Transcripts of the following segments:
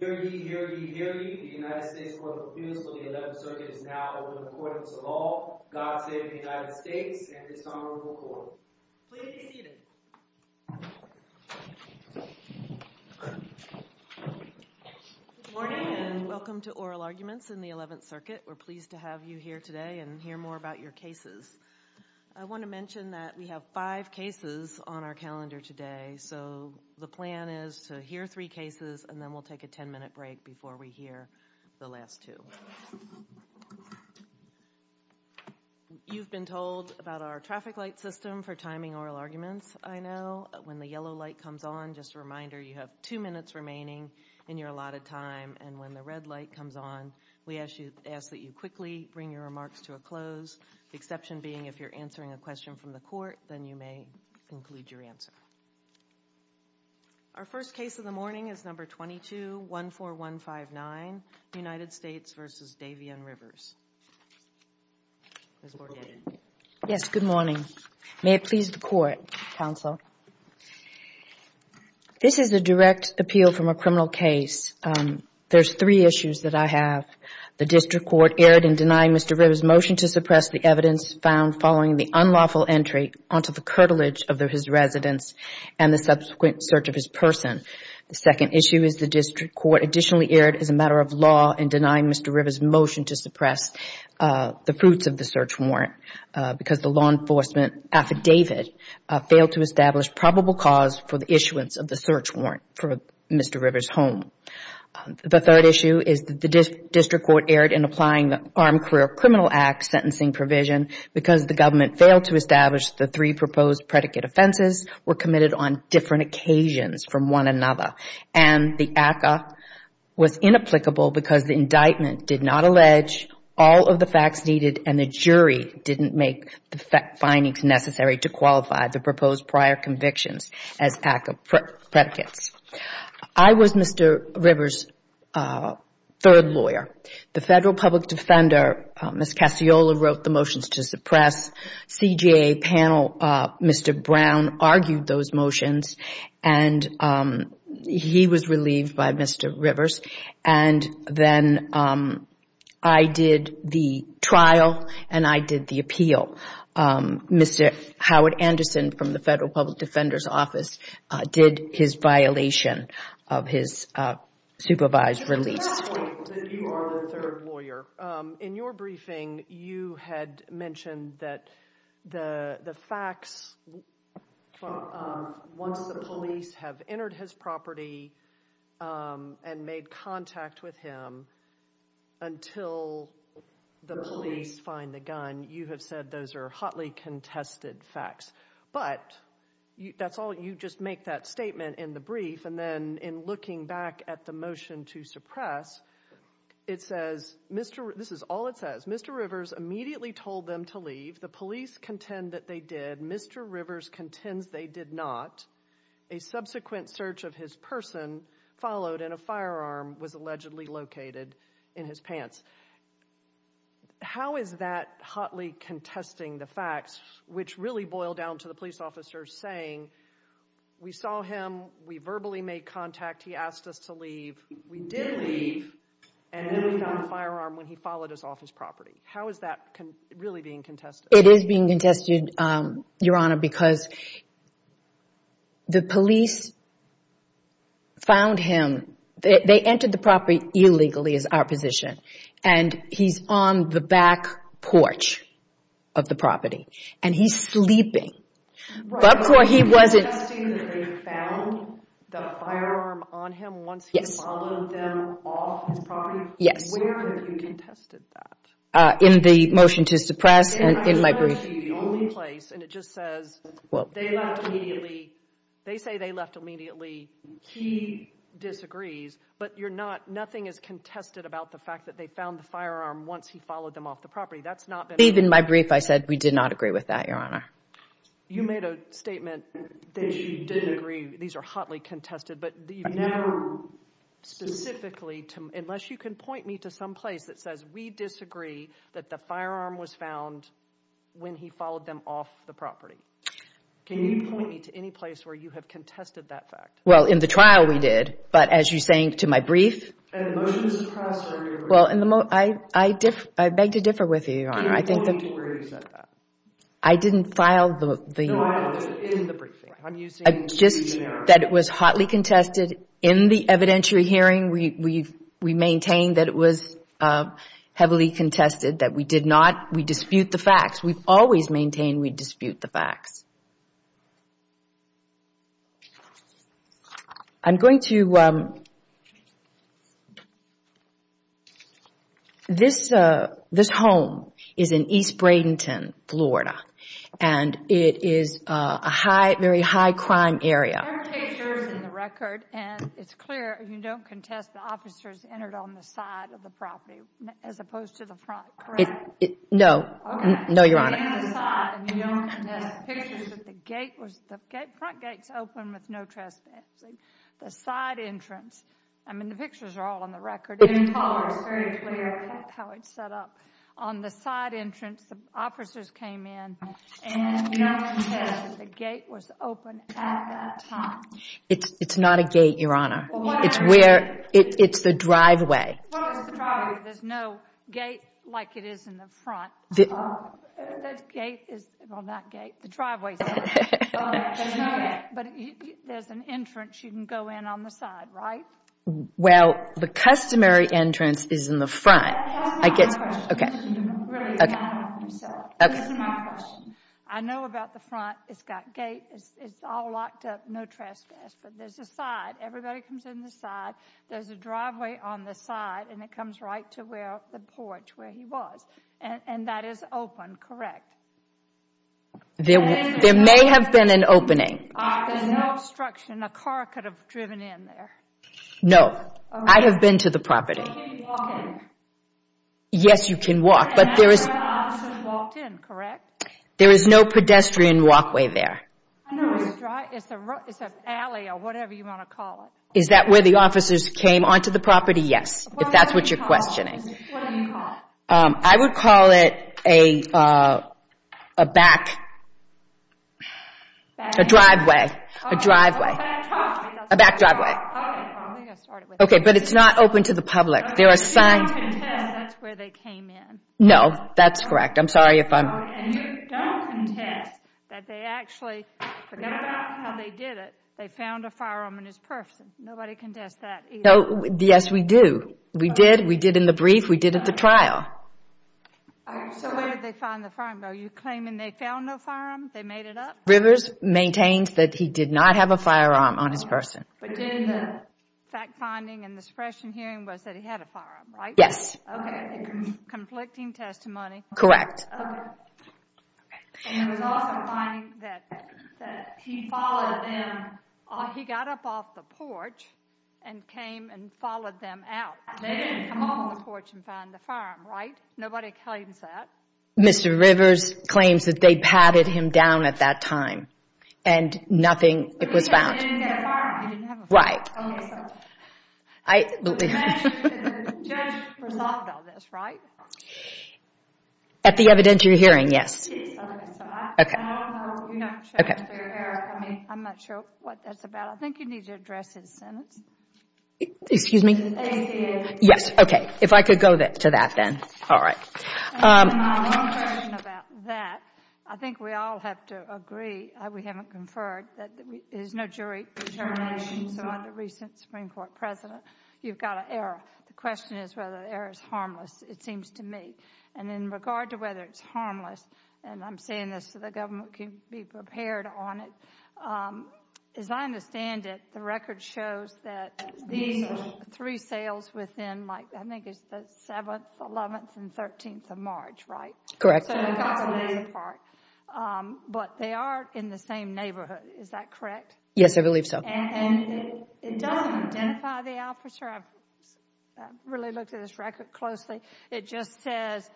Hear ye, hear ye, hear ye, the United States Court of Appeals for the 11th Circuit is now open to the Court of Law. God save the United States and its Honorable Court. Please be seated. Good morning and welcome to Oral Arguments in the 11th Circuit. We're pleased to have you here today and hear more about your cases. I want to mention that we have five cases on our calendar today, so the plan is to hear three cases and then we'll take a ten-minute break before we hear the last two. You've been told about our traffic light system for timing oral arguments, I know. When the yellow light comes on, just a reminder, you have two minutes remaining in your allotted time, and when the red light comes on, we ask that you quickly bring your remarks to a close, the exception being if you're answering a question from the Court, then you may conclude your answer. Our first case of the morning is number 2214159, United States v. Davion Rivers. Yes, good morning. May it please the Court, Counsel. This is a direct appeal from a criminal case. There's three issues that I have. The district court erred in denying Mr. Rivers' motion to suppress the evidence found following the unlawful entry onto the curtilage of his residence and the subsequent search of his person. The second issue is the district court additionally erred as a matter of law in denying Mr. Rivers' motion to suppress the fruits of the search warrant because the law enforcement affidavit failed to establish probable cause for the issuance of the search warrant for Mr. Rivers' home. The third issue is that the district court erred in applying the Armed Career Criminal Act sentencing provision because the government failed to establish the three proposed predicate offenses were committed on different occasions from one another, and the ACCA was inapplicable because the indictment did not allege all of the facts needed and the jury didn't make the findings necessary to qualify the proposed prior convictions as ACCA predicates. I was Mr. Rivers' third lawyer. The Federal Public Defender, Ms. Casciola, wrote the motions to suppress. CJA panel, Mr. Brown, argued those motions, and he was relieved by Mr. Mr. Howard Anderson from the Federal Public Defender's office did his violation of his supervised release. You are the third lawyer. In your briefing, you had mentioned that the facts, once the police have entered his property and made contact with him, until the police find the evidence, you have said those are hotly contested facts, but you just make that statement in the brief, and then in looking back at the motion to suppress, it says, this is all it says, Mr. Rivers immediately told them to leave. The police contend that they did. Mr. Rivers contends they did not. A subsequent search of his person followed, and a firearm was allegedly located in his pants. How is that hotly contesting the facts, which really boil down to the police officer saying, we saw him, we verbally made contact, he asked us to leave, we did leave, and then we found a firearm when he followed us off his property. How is that really being contested? It is being contested, Your Honor, because the police found him. They entered the property illegally, is our position, and he is on the back porch of the property, and he is sleeping. But before he wasn't... So you are contesting that they found the firearm on him once he followed them off his Yes. Where have you contested that? In the motion to suppress, in my briefing. And I know that you are the only place, and it just says, they left immediately, they You are not, nothing is contested about the fact that they found the firearm once he followed them off the property. That's not been... Even in my brief I said we did not agree with that, Your Honor. You made a statement that you did agree, these are hotly contested, but you never specifically, unless you can point me to some place that says we disagree that the firearm was found when he followed them off the property. Can you point me to any place where you have contested that fact? Well, in the trial we did, but as you are saying, to my brief... And the motion to suppress... Well, I beg to differ with you, Your Honor. You don't need to worry about that. I didn't file the... No, I did, in the briefing. Just that it was hotly contested in the evidentiary hearing, we maintain that it was heavily contested, that we did not, we dispute the facts. We always maintain we dispute the facts. I'm going to... This home is in East Bradenton, Florida, and it is a very high crime area. There are pictures in the record, and it's clear you don't contest the officers entered on the side of the property as opposed to the front, correct? No, no, Your Honor. On the side, and you don't contest the pictures that the gate was, the front gate is open with no trespassing. The side entrance, I mean, the pictures are all on the record, in color, it's very clear how it's set up. On the side entrance, the officers came in, and you don't contest that the gate was open at that time. It's not a gate, Your Honor. It's where, it's the driveway. Well, it's the driveway. There's no gate like it is in the front. The gate is, well, not gate, the driveway. There's no gate. But there's an entrance you can go in on the side, right? Well, the customary entrance is in the front. That's my question. Okay. Okay. Listen to my question. I know about the front, it's got gate, it's all locked up, no trespass, but there's a side, everybody comes in the side, there's a driveway on the side, and it comes right to where the porch, where he was, and that is open, correct? There may have been an opening. There's no obstruction, a car could have driven in there. No, I have been to the property. Can you walk in? Yes, you can walk, but there is And that's where the officers walked in, correct? There is no pedestrian walkway there. It's an alley or whatever you want to call it. Is that where the officers came onto the property? Yes, if that's what you're questioning. What do you call it? I would call it a back, a driveway, a driveway, a back driveway. Okay, but it's not open to the public. You don't contest that's where they came in. No, that's correct. I'm sorry if I'm And you don't contest that they actually, forget about how they did it, they found a firearm in his person. Nobody contests that either. Yes, we do. We did, we did in the brief, we did at the trial. So where did they find the firearm? Are you claiming they found no firearm, they made it up? Rivers maintained that he did not have a firearm on his person. But then the fact-finding and the suppression hearing was that he had a firearm, right? Yes. Okay, conflicting testimony. Correct. Okay. And there was also a finding that he followed them, he got up off the porch and came and followed them out. They didn't come up on the porch and find the firearm, right? Nobody claims that. Mr. Rivers claims that they patted him down at that time and nothing, it was found. He didn't have a firearm. Right. The judge resolved all this, right? At the evidentiary hearing, yes. I'm not sure what that's about. I think you need to address his sentence. Excuse me? Yes, okay. If I could go to that then. All right. I think we all have to agree, we haven't conferred, there's no jury determination. So under recent Supreme Court precedent, you've got an error. The question is whether the error is harmless, it seems to me. And in regard to whether it's harmless, and I'm saying this so the government can be prepared on it, as I understand it, the record shows that these are three sales within, I think it's the 7th, 11th, and 13th of March, right? Correct. But they are in the same neighborhood, is that correct? Yes, I believe so. And it doesn't identify the officer. I've really looked at this record closely. It just says,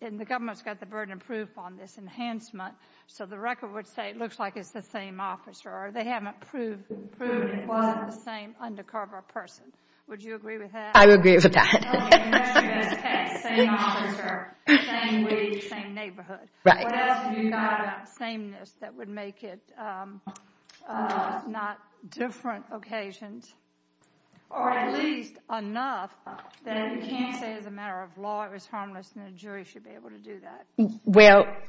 and the government's got the burden of proof on this enhancement, so the record would say it looks like it's the same officer, or they haven't proved it wasn't the same undercover person. Would you agree with that? I would agree with that. Okay, same officer, same week, same neighborhood. What else have you got about sameness that would make it not different occasions? Or at least enough that you can't say as a matter of law it was harmless, and a jury should be able to do that.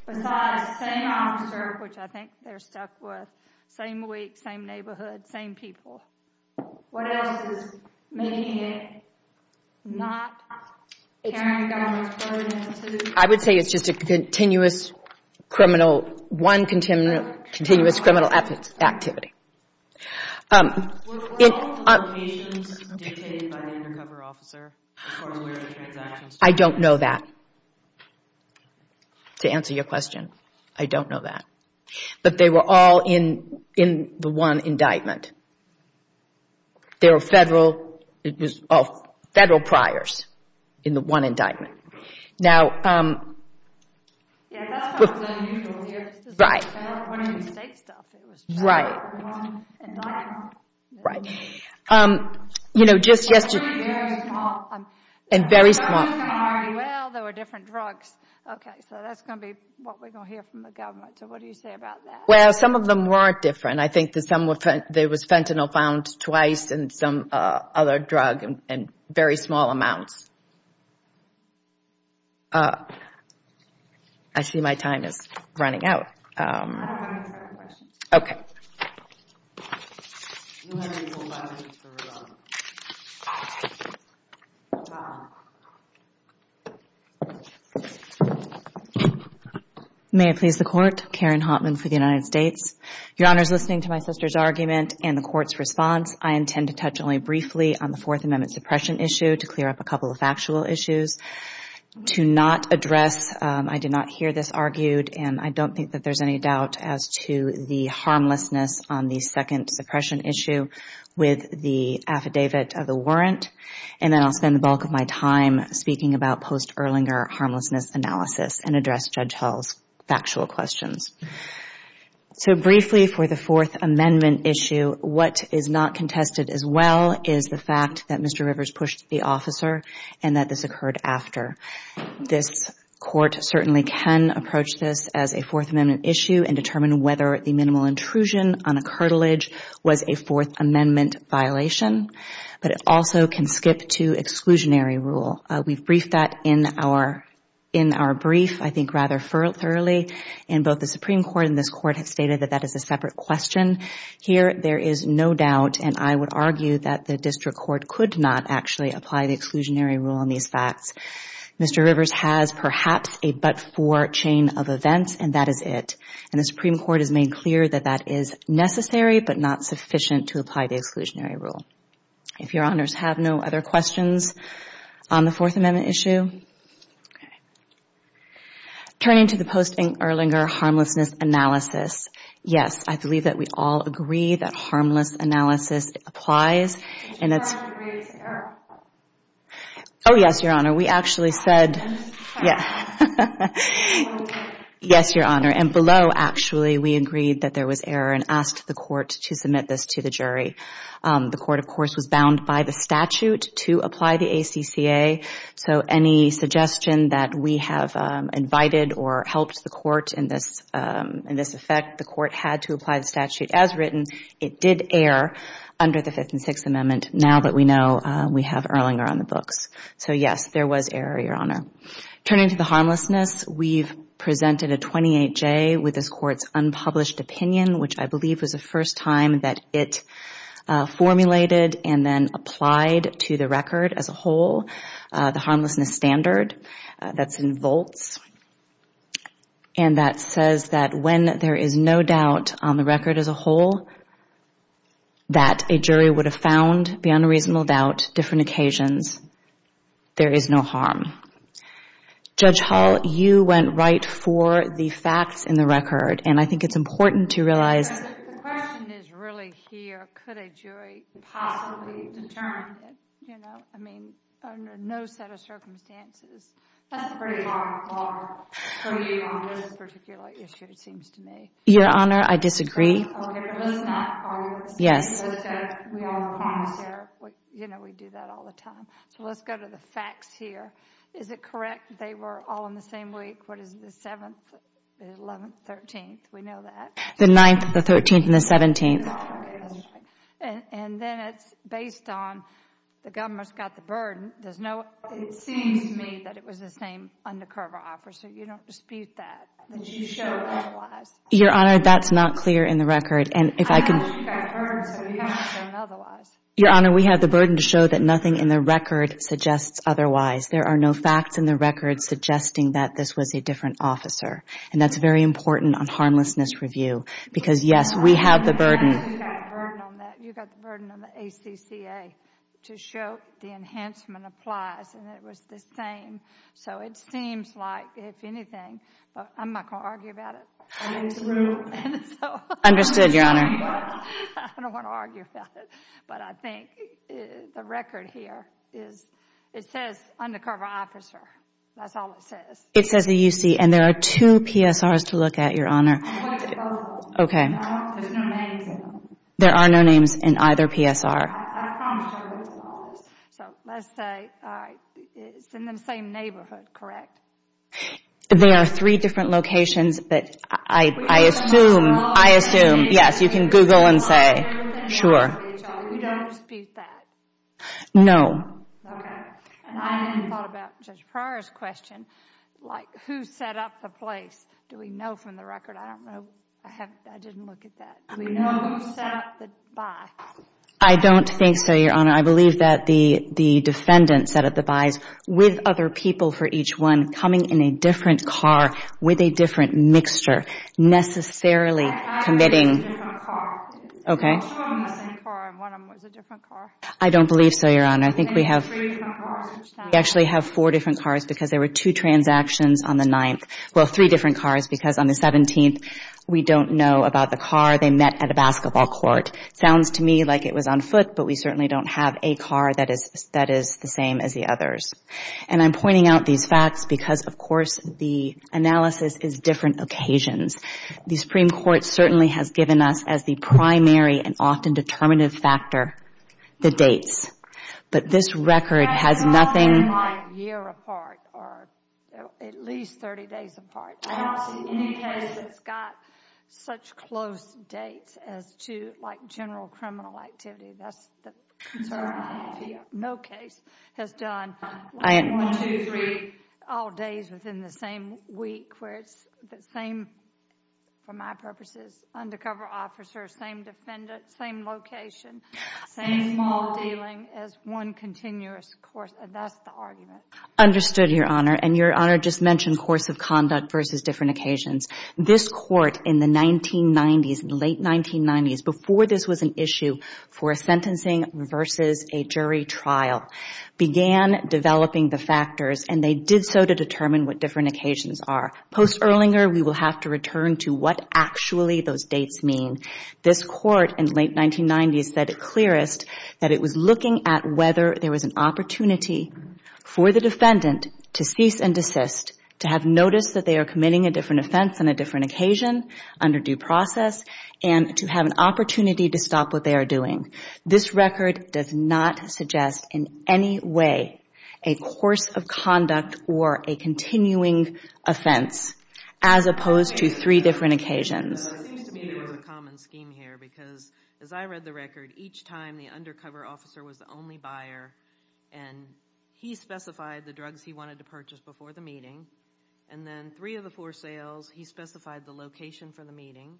Besides, same officer, which I think they're stuck with, same week, same neighborhood, same people. What else is making it not carrying government's burden into it? I would say it's just a continuous criminal, one continuous criminal activity. Were all the locations dictated by the undercover officer according to the transactions? I don't know that. To answer your question, I don't know that. But they were all in the one indictment. They were federal. It was all federal priors in the one indictment. Now... Yeah, that's not unusual here. Right. When it was state stuff, it was federal. Right. One indictment. Right. You know, just yesterday... And very small. And very small. Well, there were different drugs. Okay, so that's going to be what we're going to hear from the government. So what do you say about that? Well, some of them weren't different. I think there was fentanyl found twice and some other drug in very small amounts. I see my time is running out. I don't have any more questions. Okay. You have until 11 for rebuttal. May I please the Court? Karen Haughtman for the United States. Your Honor, listening to my sister's argument and the Court's response, I intend to touch only briefly on the Fourth Amendment suppression issue to clear up a couple of factual issues. To not address, I did not hear this argued, and I don't think that there's any doubt as to the harmlessness on the second suppression issue with the affidavit of the warrant. And then I'll spend the bulk of my time speaking about post-Erlinger harmlessness analysis and address Judge Hull's factual questions. So briefly for the Fourth Amendment issue, what is not contested as well is the fact that Mr. Rivers pushed the officer and that this occurred after. This Court certainly can approach this as a Fourth Amendment issue and determine whether the minimal intrusion on a cartilage was a Fourth Amendment violation. But it also can skip to exclusionary rule. We've briefed that in our brief, I think rather thoroughly, and both the Supreme Court and this Court have stated that that is a separate question. Here, there is no doubt, and I would argue, that the District Court could not actually apply the exclusionary rule on these facts. Mr. Rivers has perhaps a but-for chain of events, and that is it. And the Supreme Court has made clear that that is necessary but not sufficient to apply the exclusionary rule. If Your Honors have no other questions on the Fourth Amendment issue. Turning to the post-Erlinger harmlessness analysis, yes, I believe that we all agree that harmless analysis applies. Did Your Honor agree to error? Oh, yes, Your Honor. We actually said, yes, Your Honor. And below, actually, we agreed that there was error and asked the Court to submit this to the jury. The Court, of course, was bound by the statute to apply the ACCA. So any suggestion that we have invited or helped the Court in this effect, the Court had to apply the statute as written. It did err under the Fifth and Sixth Amendment, now that we know we have Erlinger on the books. So, yes, there was error, Your Honor. Turning to the harmlessness, we've presented a 28-J with this Court's unpublished opinion, which I believe was the first time that it formulated and then applied to the record as a whole, the harmlessness standard. That's in volts. And that says that when there is no doubt on the record as a whole that a jury would have found, beyond a reasonable doubt, different occasions, there is no harm. Judge Hall, you went right for the facts in the record, and I think it's important to realize— The question is really here, could a jury possibly determine, you know, I mean, under no set of circumstances. That's a pretty hard bar for you on this particular issue, it seems to me. Your Honor, I disagree. Okay, but let's not argue this. Yes. We all promise here, you know, we do that all the time. So let's go to the facts here. Is it correct they were all in the same week? What is it, the 7th, the 11th, the 13th? We know that. The 9th, the 13th, and the 17th. Okay, that's right. And then it's based on the government's got the burden. There's no— It seems to me that it was the same undercover officer. You don't dispute that. Did you show otherwise? Your Honor, that's not clear in the record. And if I could— I know she got the burden, so you have to show otherwise. Your Honor, we have the burden to show that nothing in the record suggests otherwise. There are no facts in the record suggesting that this was a different officer. And that's very important on harmlessness review because, yes, we have the burden. You got the burden on that. You got the burden on the ACCA to show the enhancement applies and it was the same. So it seems like, if anything—I'm not going to argue about it. Get in the room. Understood, Your Honor. I don't want to argue about it. But I think the record here is—it says undercover officer. That's all it says. It says the UC. And there are two PSRs to look at, Your Honor. I looked at both of them. Okay. There's no names in them. There are no names in either PSR. I promised you I would look at all of them. So let's say—all right. It's in the same neighborhood, correct? There are three different locations, but I assume— We can Google them all. I assume. Yes, you can Google and say. Sure. We don't dispute that? No. Okay. And I hadn't thought about Judge Pryor's question, like, who set up the place. Do we know from the record? I don't know. I didn't look at that. Do we know who set up the buys? I don't think so, Your Honor. I believe that the defendant set up the buys with other people for each one coming in a different car with a different mixture, necessarily committing— I don't believe so, Your Honor. I think we have— We actually have four different cars because there were two transactions on the 9th— well, three different cars because on the 17th, we don't know about the car they met at a basketball court. It sounds to me like it was on foot, but we certainly don't have a car that is the same as the others. And I'm pointing out these facts because, of course, the analysis is different occasions. The Supreme Court certainly has given us, as the primary and often determinative factor, the dates. But this record has nothing— I haven't seen anything a year apart or at least 30 days apart. I haven't seen any case that's got such close dates as to, like, general criminal activity. That's the concern I have here. No case has done one, two, three all days within the same week where it's the same, for my purposes, undercover officers, same defendant, same location, same small dealing as one continuous course. That's the argument. Understood, Your Honor. And, Your Honor, just mentioned course of conduct versus different occasions. This Court in the 1990s, in the late 1990s, before this was an issue for a sentencing versus a jury trial, began developing the factors, and they did so to determine what different occasions are. Post-Erlinger, we will have to return to what actually those dates mean. This Court in the late 1990s said it clearest that it was looking at whether there was an opportunity for the defendant to cease and desist, to have noticed that they are committing a different offense on a different occasion under due process, and to have an opportunity to stop what they are doing. This record does not suggest in any way a course of conduct or a continuing offense as opposed to three different occasions. It seems to me there was a common scheme here because, as I read the record, each time the undercover officer was the only buyer, and he specified the drugs he wanted to purchase before the meeting, and then three of the four sales, he specified the location for the meeting,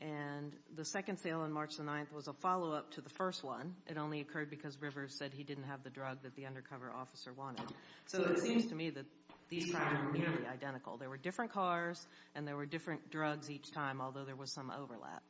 and the second sale on March the 9th was a follow-up to the first one. It only occurred because Rivers said he didn't have the drug that the undercover officer wanted. So it seems to me that these crimes were nearly identical. There were different cars, and there were different drugs each time, although there was some overlap.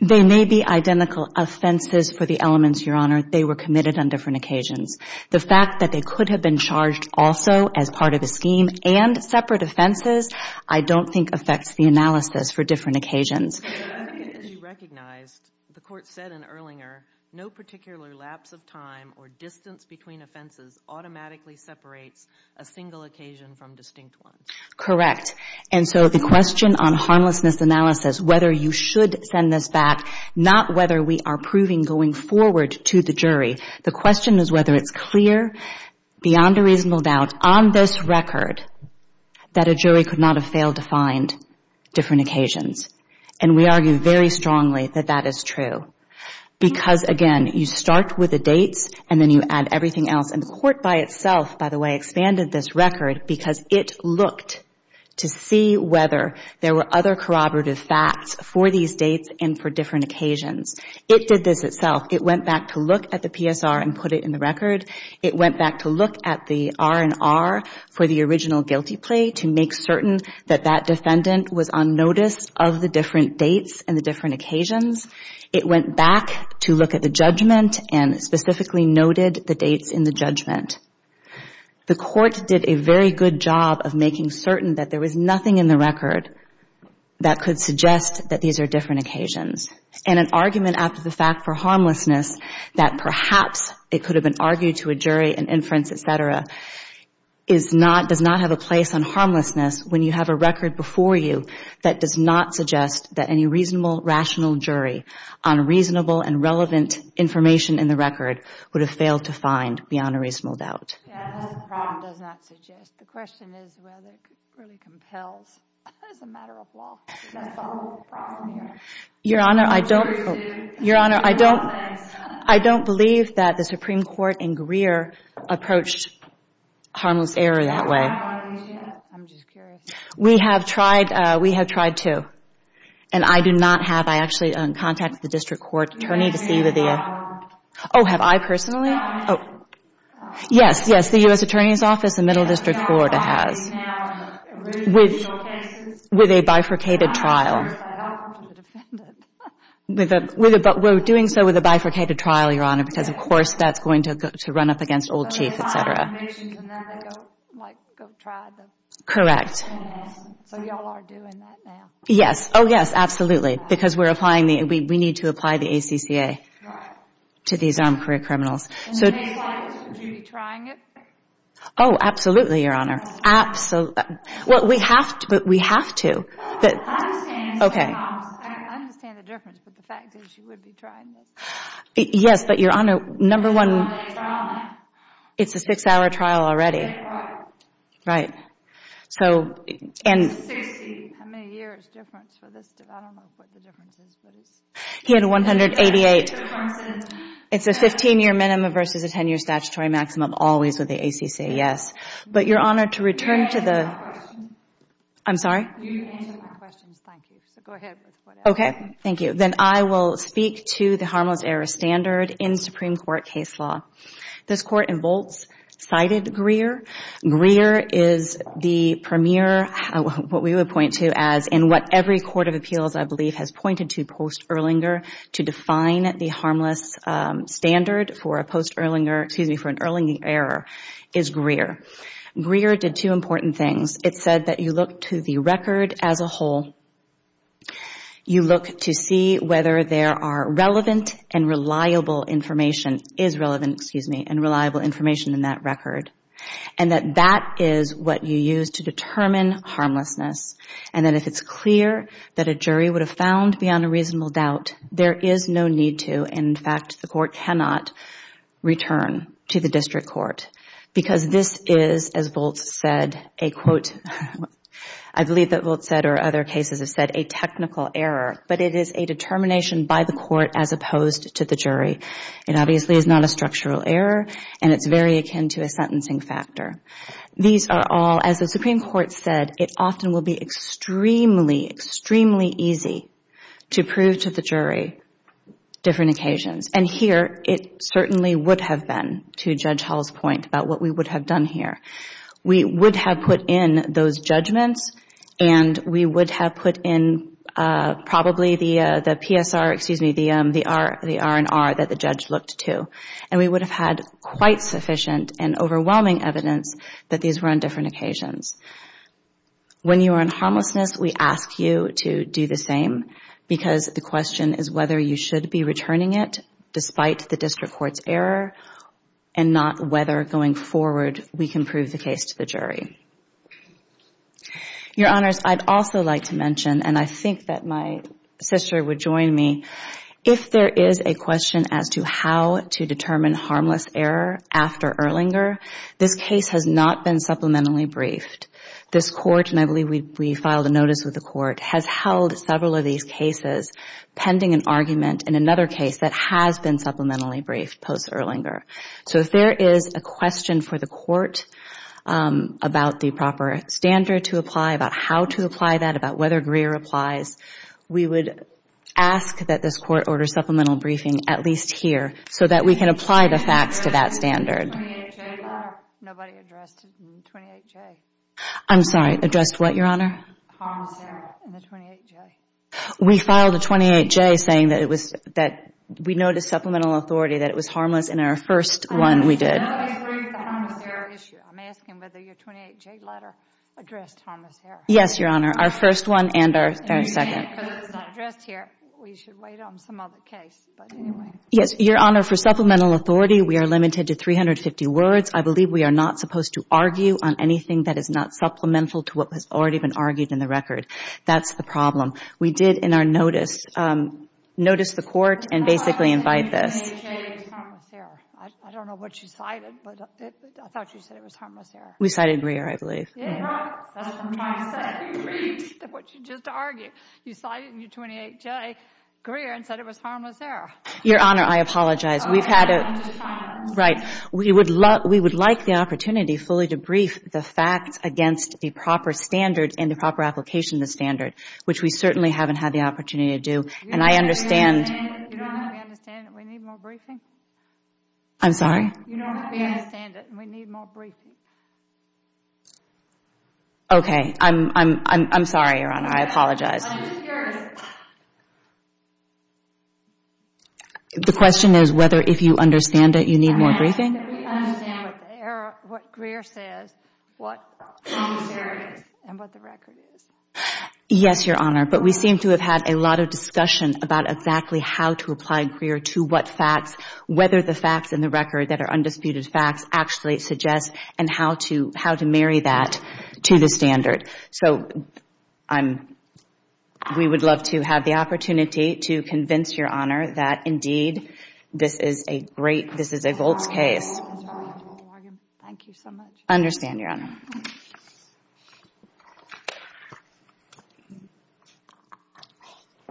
They may be identical offenses for the elements, Your Honor. They were committed on different occasions. The fact that they could have been charged also as part of a scheme and separate offenses, I don't think affects the analysis for different occasions. As you recognized, the court said in Erlinger, no particular lapse of time or distance between offenses automatically separates a single occasion from distinct ones. Correct. And so the question on harmlessness analysis, whether you should send this back, not whether we are proving going forward to the jury, the question is whether it's clear beyond a reasonable doubt on this record that a jury could not have failed to find different occasions. And we argue very strongly that that is true because, again, you start with the dates and then you add everything else. And the court by itself, by the way, expanded this record because it looked to see whether there were other corroborative facts for these dates and for different occasions. It did this itself. It went back to look at the PSR and put it in the record. It went back to look at the R&R for the original guilty plea to make certain that that defendant was on notice of the different dates and the different occasions. It went back to look at the judgment and specifically noted the dates in the judgment. The court did a very good job of making certain that there was nothing in the record that could suggest that these are different occasions. And an argument after the fact for harmlessness that perhaps it could have been argued to a jury and inference, et cetera, does not have a place on harmlessness when you have a record before you that does not suggest that any reasonable, rational jury on reasonable and relevant information in the record would have failed to find beyond a reasonable doubt. Yes, the problem does not suggest. The question is whether it really compels as a matter of law. That's the whole problem here. Your Honor, I don't believe that the Supreme Court in Greer approached harmless error that way. I'm just curious. We have tried to. And I do not have. I actually contacted the district court attorney to see whether the – Have you seen it at all? Oh, have I personally? No. Oh. Yes, yes, the U.S. Attorney's Office and Middle District Court has. With a bifurcated trial. But we're doing so with a bifurcated trial, Your Honor, because, of course, that's going to run up against old chief, et cetera. Correct. So you all are doing that now? Yes. Oh, yes, absolutely. Because we're applying the – we need to apply the ACCA to these armed career criminals. In the next five years, would you be trying it? Oh, absolutely, Your Honor. Absolutely. Well, we have to, but we have to. I understand. Okay. I understand the difference, but the fact is you would be trying this. Yes, but, Your Honor, number one, it's a six-hour trial already. Right. How many years difference for this? I don't know what the difference is. He had a 188. It's a 15-year minimum versus a 10-year statutory maximum always with the ACCA, yes. But, Your Honor, to return to the... I'm sorry? You answered the questions. Thank you. So go ahead with whatever. Okay. Thank you. Then I will speak to the harmless error standard in Supreme Court case law. This Court in Volz cited Greer. Greer is the premier, what we would point to as in what every court of appeals, I believe, has pointed to post-Erlinger to define the harmless standard for a post-Erlinger, excuse me, for an Erlinger error is Greer. Greer did two important things. It said that you look to the record as a whole. You look to see whether there are relevant and reliable information, is relevant, excuse me, and reliable information in that record. And that that is what you use to determine harmlessness. And that if it's clear that a jury would have found beyond a reasonable doubt, there is no need to, in fact, the court cannot return to the district court because this is, as Volz said, a quote... I believe that Volz said or other cases have said a technical error, but it is a determination by the court as opposed to the jury. It obviously is not a structural error and it's very akin to a sentencing factor. These are all, as the Supreme Court said, it often will be extremely, extremely easy to prove to the jury different occasions. And here it certainly would have been, to Judge Hull's point, about what we would have done here. We would have put in those judgments and we would have put in probably the PSR, excuse me, the R&R that the judge looked to. And we would have had quite sufficient and overwhelming evidence that these were on different occasions. When you are in harmlessness, we ask you to do the same because the question is whether you should be returning it despite the district court's error and not whether going forward we can prove the case to the jury. Your Honors, I'd also like to mention, and I think that my sister would join me, if there is a question as to how to determine harmless error after Erlinger, this case has not been supplementary briefed. This court, and I believe we filed a notice with the court, has held several of these cases pending an argument in another case that has been supplementary briefed post-Erlinger. So if there is a question for the court about the proper standard to apply, about how to apply that, about whether Greer applies, we would ask that this court order supplemental briefing at least here so that we can apply the facts to that standard. Nobody addressed the 28J? I'm sorry, addressed what, Your Honor? Harmless error in the 28J. We filed a 28J saying that we noticed supplemental authority, that it was harmless in our first one we did. I'm asking whether your 28J letter addressed harmless error. Yes, Your Honor, our first one and our second. Because it's not addressed here, we should wait on some other case. Yes, Your Honor, for supplemental authority, we are limited to 350 words. I believe we are not supposed to argue on anything that is not supplemental to what has already been argued in the record. That's the problem. We did in our notice notice the court and basically invite this. I don't know what you cited, but I thought you said it was harmless error. We cited Greer, I believe. That's what I'm trying to say. You agreed to what you just argued. You cited in your 28J Greer and said it was harmless error. Your Honor, I apologize. We've had a – I'm just trying to – Right. We would like the opportunity fully to brief the facts against the proper standard and the proper application of the standard, which we certainly haven't had the opportunity to do. And I understand – You don't have to understand it. We need more briefing. I'm sorry? You don't have to understand it. We need more briefing. Okay. I'm sorry, Your Honor. I apologize. I'm just curious. The question is whether if you understand it, you need more briefing? We understand what Greer says, what harmless error is, and what the record is. Yes, Your Honor, but we seem to have had a lot of discussion about exactly how to apply Greer to what facts, whether the facts in the record that are undisputed facts actually suggest, and how to marry that to the standard. So I'm – we would love to have the opportunity to convince Your Honor that, indeed, this is a great – this is a Voltz case. Thank you so much. I understand, Your Honor.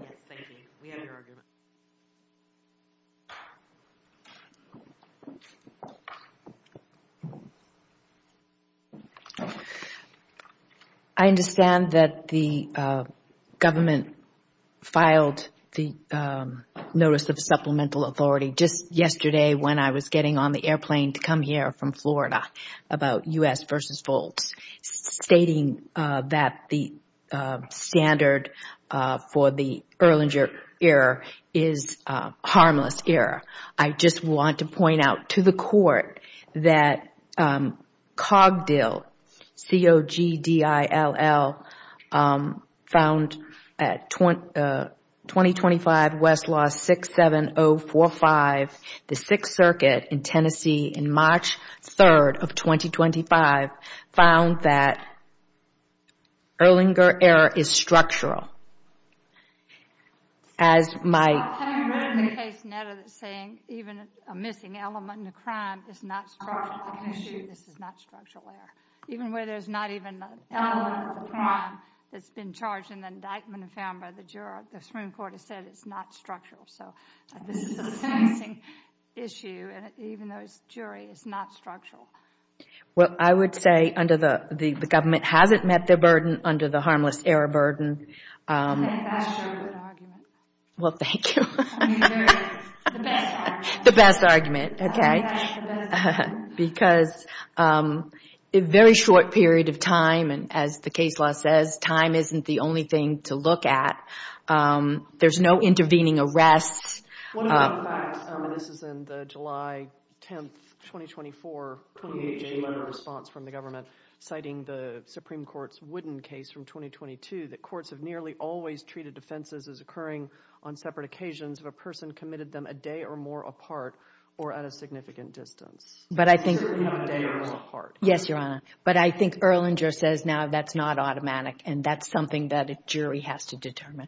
Yes, thank you. We have your argument. I understand that the government filed the notice of supplemental authority just yesterday when I was getting on the airplane to come here from Florida about U.S. versus Voltz, stating that the standard for the Erlanger error is harmless error. I just want to point out to the Court that Cogdill, C-O-G-D-I-L-L, found at 2025 Westlaw 67045, the Sixth Circuit in Tennessee, in March 3rd of 2025, found that Erlanger error is structural. Having read the case, Netta, that's saying even a missing element in a crime is not structural, I can assure you this is not structural error. Even where there's not even an element of the crime that's been charged in the indictment and found by the juror, the Supreme Court has said it's not structural. So this is a missing issue, and even though it's jury, it's not structural. Well, I would say under the – the government hasn't met their burden under the harmless error burden. I think that's a good argument. Well, thank you. I mean, they're the best argument. The best argument, okay. I think that's the best argument. Because a very short period of time, and as the case law says, time isn't the only thing to look at. There's no intervening arrests. One other fact, and this is in the July 10th, 2024, letter of response from the government citing the Supreme Court's Wooden case from 2022, that courts have nearly always treated defenses as occurring on separate occasions if a person committed them a day or more apart or at a significant distance. But I think – Certainly not a day or more apart. Yes, Your Honor. But I think Erlanger says now that's not automatic, and that's something that a jury has to determine.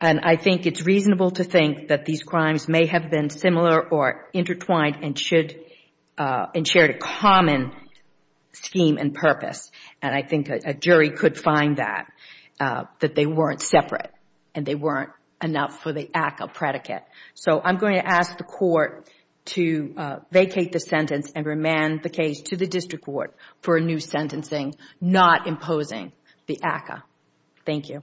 And I think it's reasonable to think that these crimes may have been similar or intertwined and should – and shared a common scheme and purpose. And I think a jury could find that, that they weren't separate and they weren't enough for the act of predicate. So I'm going to ask the court to vacate the sentence and remand the case to the district court for a new sentencing, not imposing the ACCA. Thank you.